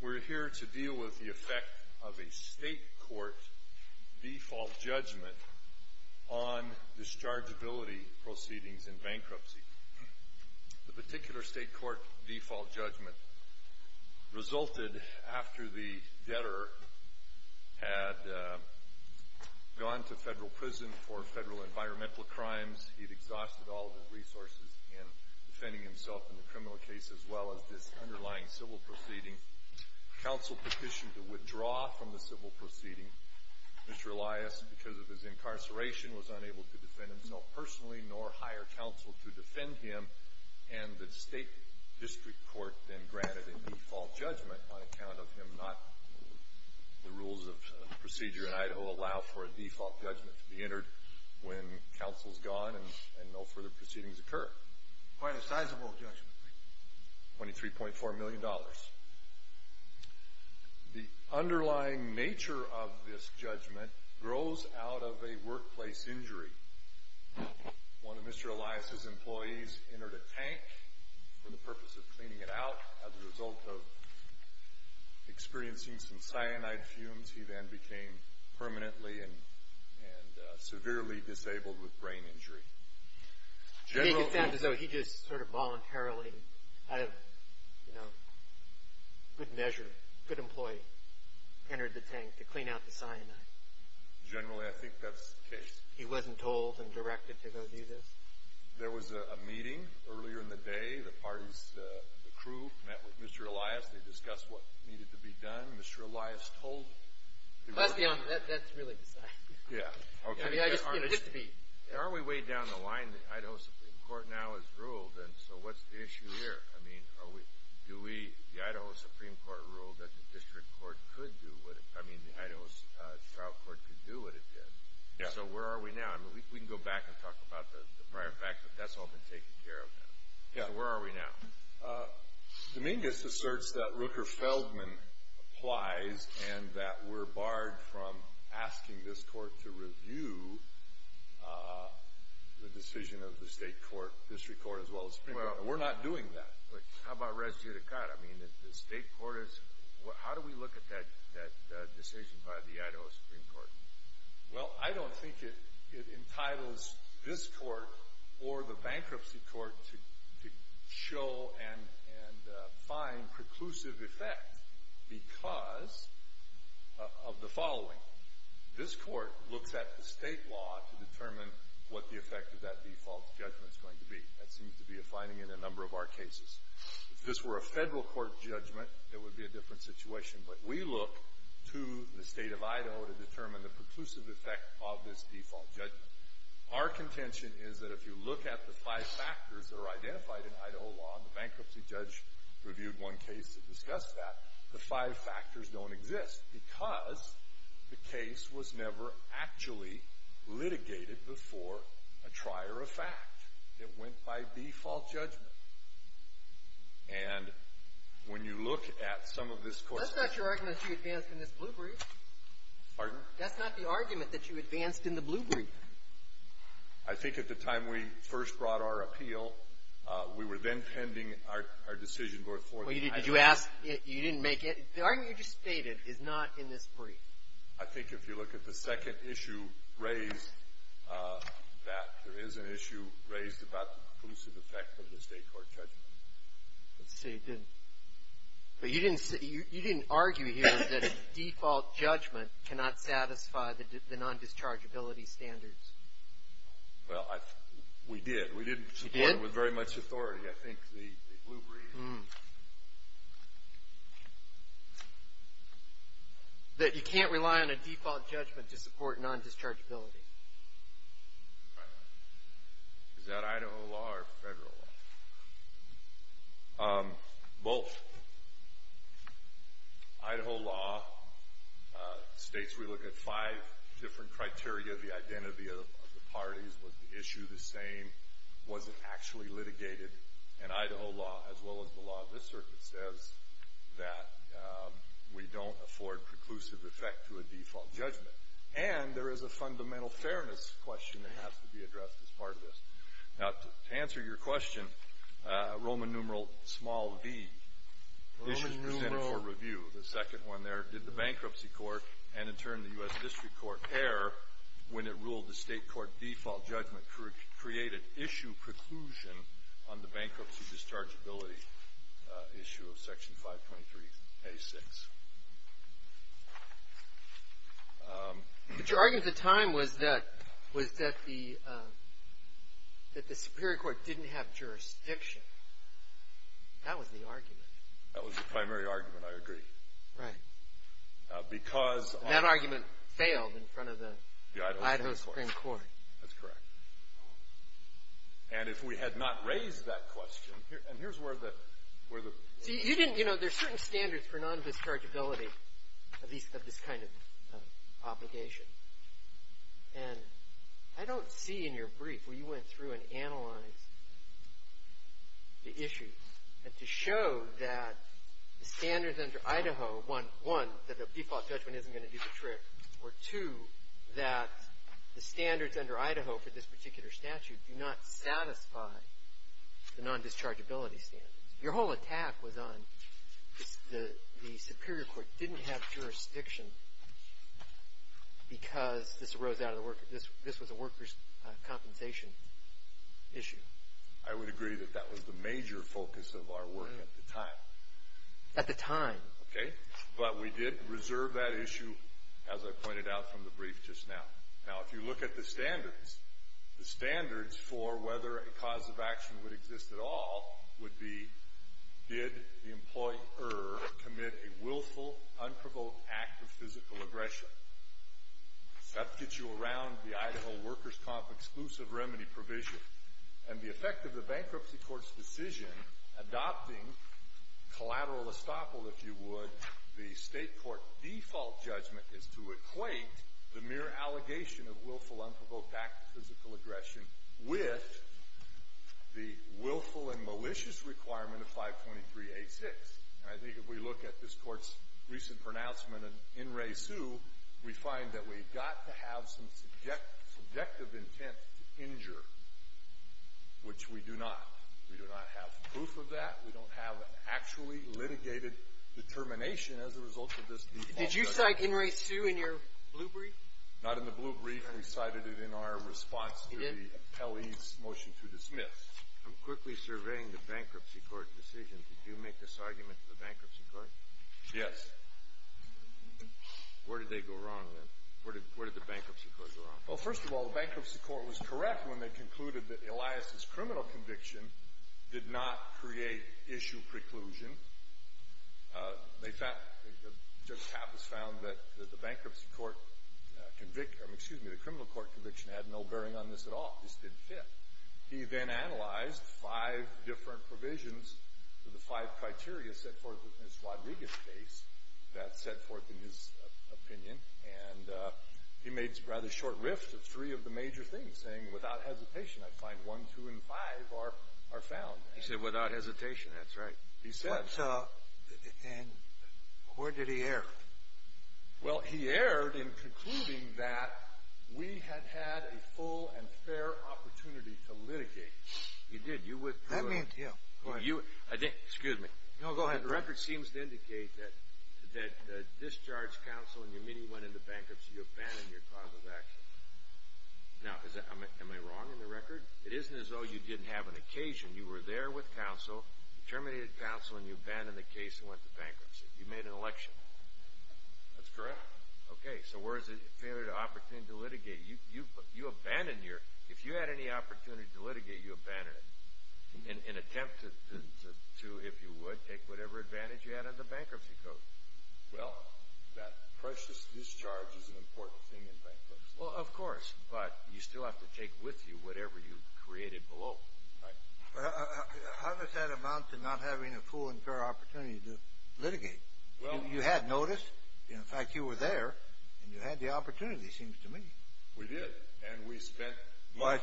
We're here to deal with the effect of a state court default judgment on dischargeability proceedings in bankruptcy. The particular state court default judgment resulted after the debtor had gone to federal prison for federal environmental crimes. He'd exhausted all of his resources in defending himself in the criminal case, as well as this underlying civil proceeding. Counsel petitioned to withdraw from the civil proceeding. Mr. Elias, because of his incarceration, was unable to defend himself personally, nor hire counsel to defend him, and the state district court then granted a default judgment on account of him not—the rules of procedure in Idaho allow for a default judgment to be entered when counsel's gone and no further proceedings occur. Quite a sizable judgment. Twenty-three point four million dollars. The underlying nature of this judgment grows out of a workplace injury. One of Mr. Elias' employees entered a tank for the purpose of cleaning it out. As a result of experiencing some cyanide fumes, he then became permanently and severely disabled with brain injury. He just sort of voluntarily, out of, you know, good measure, a good employee, entered the tank to clean out the cyanide. Generally, I think that's the case. He wasn't told and directed to go do this? There was a meeting earlier in the day. The parties, the crew, met with Mr. Elias. They discussed what needed to be done. Mr. Elias told— That's beyond me. That's really beside me. Yeah. Okay. I mean, I just, you know, just to be— Aren't we way down the line? The Idaho Supreme Court now has ruled, and so what's the issue here? I mean, are we—do we—the Idaho Supreme Court ruled that the district court could do what it— I mean, the Idaho trial court could do what it did. Yeah. So where are we now? I mean, we can go back and talk about the prior fact, but that's all been taken care of now. Yeah. So where are we now? Dominguez asserts that Rooker-Feldman applies and that we're barred from asking this court to review the decision of the state court, district court, as well as the Supreme Court. Well, we're not doing that. How about res judicata? I mean, if the state court is—how do we look at that decision by the Idaho Supreme Court? Well, I don't think it entitles this court or the bankruptcy court to show and find preclusive effect because of the following. This court looks at the state law to determine what the effect of that default judgment is going to be. That seems to be a finding in a number of our cases. If this were a federal court judgment, it would be a different situation, but we look to the state of Idaho to determine the preclusive effect of this default judgment. Our contention is that if you look at the five factors that are identified in Idaho law, and the bankruptcy judge reviewed one case that discussed that, the five factors don't exist because the case was never actually litigated before a trier of fact. It went by default judgment. And when you look at some of this court's— That's not your argument that you advance in this blue brief. Pardon? That's not the argument that you advanced in the blue brief. I think at the time we first brought our appeal, we were then pending our decision before the Idaho court. Did you ask? You didn't make it? The argument you just stated is not in this brief. I think if you look at the second issue raised, that there is an issue raised about the preclusive effect of the state court judgment. But you didn't argue here that a default judgment cannot satisfy the non-dischargeability standards. Well, we did. We didn't support it with very much authority. I think the blue brief— That you can't rely on a default judgment to support non-dischargeability. Right. Is that Idaho law or federal law? Both. Idaho law states we look at five different criteria of the identity of the parties. Was the issue the same? Was it actually litigated? And Idaho law, as well as the law of this circuit, says that we don't afford preclusive effect to a default judgment. And there is a fundamental fairness question that has to be addressed as part of this. Now, to answer your question, Roman numeral small v, this is presented for review, the second one there. Did the bankruptcy court, and in turn the U.S. District Court, err when it ruled the state court default judgment created issue preclusion on the bankruptcy dischargeability issue of Section 523a6? But your argument at the time was that the Superior Court didn't have jurisdiction. That was the argument. That was the primary argument, I agree. Right. That argument failed in front of the Idaho Supreme Court. That's correct. And if we had not raised that question— See, you didn't, you know, there's certain standards for non-dischargeability of this kind of obligation. And I don't see in your brief where you went through and analyzed the issue to show that the standards under Idaho, one, that a default judgment isn't going to do the trick, or two, that the standards under Idaho for this particular statute do not satisfy the non-dischargeability standards. Your whole attack was on the Superior Court didn't have jurisdiction because this was a workers' compensation issue. I would agree that that was the major focus of our work at the time. At the time. Okay, but we did reserve that issue, as I pointed out from the brief just now. Now, if you look at the standards, the standards for whether a cause of action would exist at all would be did the employer commit a willful, unprovoked act of physical aggression. That gets you around the Idaho workers' comp exclusive remedy provision. And the effect of the Bankruptcy Court's decision adopting collateral estoppel, if you would, that the State court default judgment is to equate the mere allegation of willful, unprovoked act of physical aggression with the willful and malicious requirement of 523-86. And I think if we look at this Court's recent pronouncement in Resu, we find that we've got to have some subjective intent to injure, which we do not. We do not have proof of that. We don't have an actually litigated determination as a result of this default judgment. Did you cite in Resu in your blue brief? Not in the blue brief. We cited it in our response to the Appellee's motion to dismiss. I'm quickly surveying the Bankruptcy Court's decision. Did you make this argument to the Bankruptcy Court? Yes. Where did they go wrong, then? Where did the Bankruptcy Court go wrong? Well, first of all, the Bankruptcy Court was correct when they concluded that Elias's criminal conviction did not create issue preclusion. Judge Tapas found that the criminal court conviction had no bearing on this at all. This didn't fit. He then analyzed five different provisions of the five criteria set forth in his Rodriguez case that set forth in his opinion. And he made rather short rifts of three of the major things, saying, without hesitation, I find one, two, and five are found. He said without hesitation. That's right. He said. And where did he err? Well, he erred in concluding that we had had a full and fair opportunity to litigate. You did. That meant him. Excuse me. No, go ahead. The record seems to indicate that discharge counsel and your meeting went into bankruptcy. You abandoned your cause of action. Now, am I wrong in the record? It isn't as though you didn't have an occasion. You were there with counsel, terminated counsel, and you abandoned the case and went to bankruptcy. You made an election. That's correct. Okay. So where is the opportunity to litigate? If you had any opportunity to litigate, you abandoned it in attempt to, if you would, take whatever advantage you had in the bankruptcy code. Well, that precious discharge is an important thing in bankruptcy. Well, of course, but you still have to take with you whatever you created below. Right. How does that amount to not having a full and fair opportunity to litigate? You had notice. In fact, you were there, and you had the opportunity, it seems to me. We did, and we spent.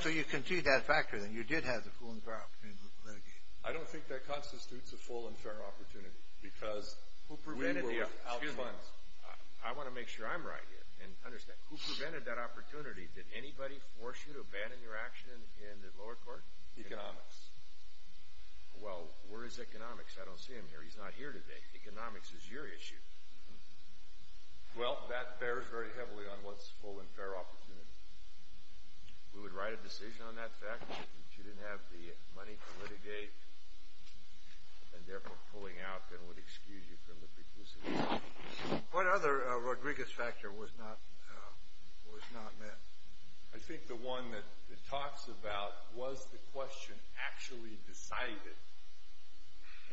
So you concede that factor, then. You did have the full and fair opportunity to litigate. I don't think that constitutes a full and fair opportunity because we were without funds. I want to make sure I'm right here and understand. Who prevented that opportunity? Did anybody force you to abandon your action in the lower court? Economics. Well, where is economics? I don't see him here. He's not here today. Economics is your issue. Well, that bears very heavily on what's full and fair opportunity. We would write a decision on that fact. If you didn't have the money to litigate and, therefore, pulling out, then we'd excuse you from the preclusion. What other Rodriguez factor was not met? I think the one that it talks about was the question actually decided.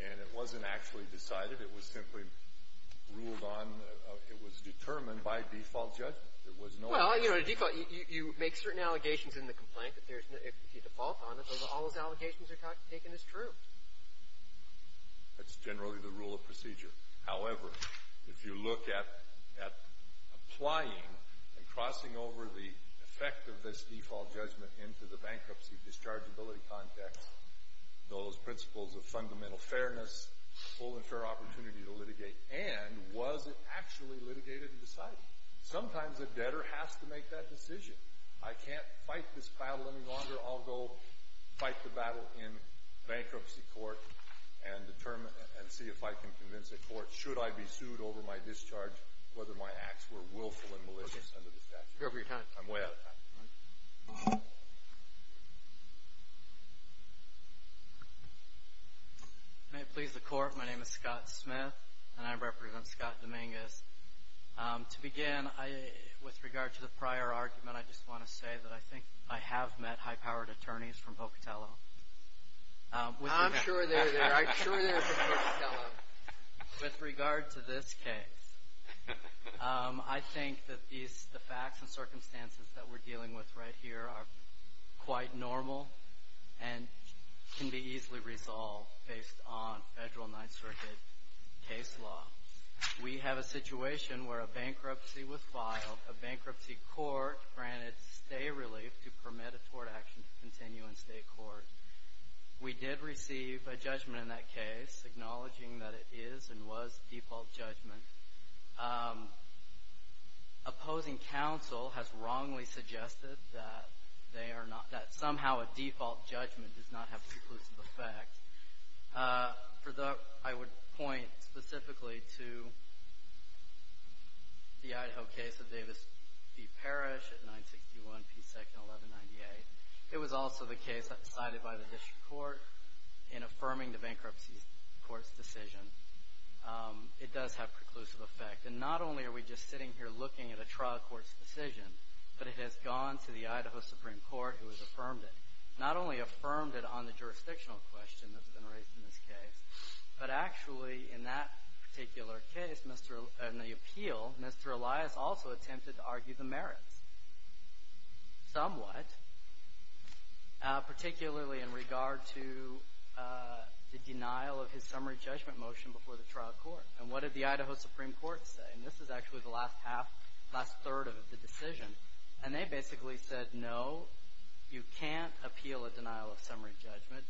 And it wasn't actually decided. It was simply ruled on. There was no other. Well, you know, you make certain allegations in the complaint. If you default on it, all those allegations are taken as true. That's generally the rule of procedure. However, if you look at applying and crossing over the effect of this default judgment into the bankruptcy dischargeability context, those principles of fundamental fairness, full and fair opportunity to litigate, and was it actually litigated and decided? Sometimes a debtor has to make that decision. I can't fight this battle any longer. I'll go fight the battle in bankruptcy court and determine and see if I can convince a court, should I be sued over my discharge, whether my acts were willful and malicious under the statute. You're over your time. I'm way out of time. May it please the Court. My name is Scott Smith, and I represent Scott Dominguez. To begin, with regard to the prior argument, I just want to say that I think I have met high-powered attorneys from Pocatello. I'm sure they're there. I'm sure they're from Pocatello. With regard to this case, I think that the facts and circumstances that we're dealing with right here are quite normal and can be easily resolved based on federal Ninth Circuit case law. We have a situation where a bankruptcy was filed. A bankruptcy court granted stay relief to permit a court action to continue in state court. We did receive a judgment in that case, acknowledging that it is and was default judgment. Opposing counsel has wrongly suggested that somehow a default judgment does not have preclusive effect. For that, I would point specifically to the Idaho case of Davis v. Parrish at 961 P. 2nd 1198. It was also the case cited by the district court in affirming the bankruptcy court's decision. It does have preclusive effect, and not only are we just sitting here looking at a trial court's decision, but it has gone to the Idaho Supreme Court, who has affirmed it. Not only affirmed it on the jurisdictional question that's been raised in this case, but actually in that particular case, in the appeal, Mr. Elias also attempted to argue the merits somewhat, particularly in regard to the denial of his summary judgment motion before the trial court. And what did the Idaho Supreme Court say? And this is actually the last half, last third of the decision. And they basically said, no, you can't appeal a denial of summary judgment.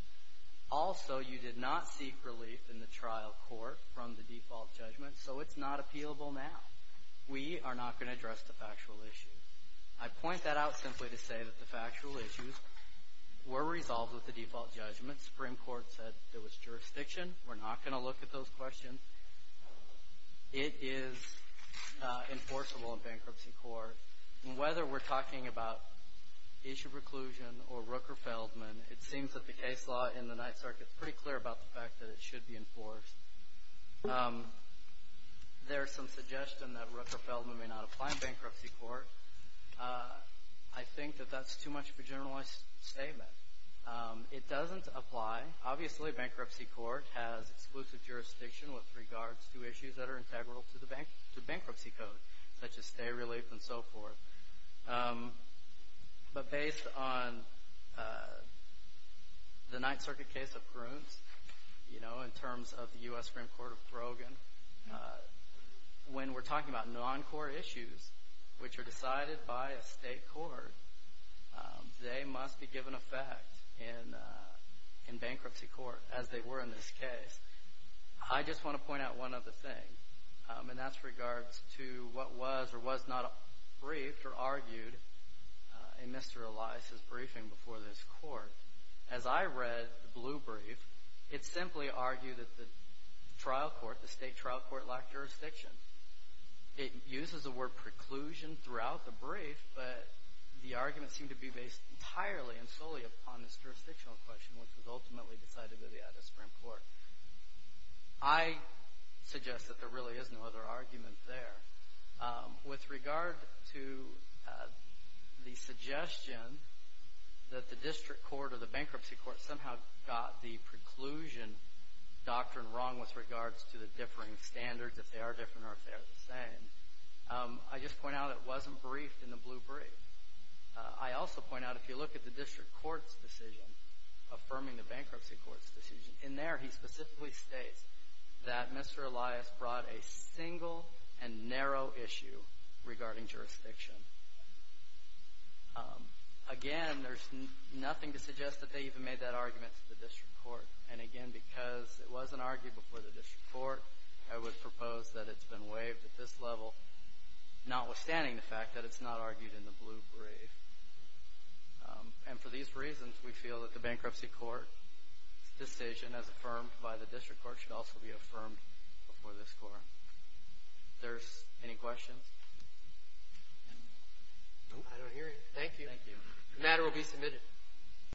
Also, you did not seek relief in the trial court from the default judgment, so it's not appealable now. We are not going to address the factual issue. I point that out simply to say that the factual issues were resolved with the default judgment. Supreme Court said there was jurisdiction. We're not going to look at those questions. It is enforceable in bankruptcy court. And whether we're talking about issue preclusion or Rooker-Feldman, it seems that the case law in the Ninth Circuit is pretty clear about the fact that it should be enforced. There is some suggestion that Rooker-Feldman may not apply in bankruptcy court. I think that that's too much of a generalized statement. It doesn't apply. Obviously, bankruptcy court has exclusive jurisdiction with regards to issues that are integral to the bankruptcy code, such as stay, relief, and so forth. But based on the Ninth Circuit case of Prunes, you know, in terms of the U.S. Supreme Court of Brogan, when we're talking about non-court issues, which are decided by a state court, they must be given effect in bankruptcy court, as they were in this case. I just want to point out one other thing, and that's with regards to what was or was not briefed or argued in Mr. Elias' briefing before this court. As I read the blue brief, it simply argued that the trial court, the state trial court, lacked jurisdiction. It uses the word preclusion throughout the brief, but the arguments seem to be based entirely and solely upon this jurisdictional question, which was ultimately decided by the Addis-Frank court. I suggest that there really is no other argument there. With regard to the suggestion that the district court or the bankruptcy court somehow got the preclusion doctrine wrong with regards to the differing standards, if they are different or if they are the same, I just point out it wasn't briefed in the blue brief. I also point out, if you look at the district court's decision, affirming the bankruptcy court's decision, in there he specifically states that Mr. Elias brought a single and narrow issue regarding jurisdiction. Again, there's nothing to suggest that they even made that argument to the district court. And again, because it wasn't argued before the district court, I would propose that it's been waived at this level, notwithstanding the fact that it's not argued in the blue brief. And for these reasons, we feel that the bankruptcy court's decision, as affirmed by the district court, should also be affirmed before this court. If there's any questions? I don't hear you. Thank you. Thank you. The matter will be submitted.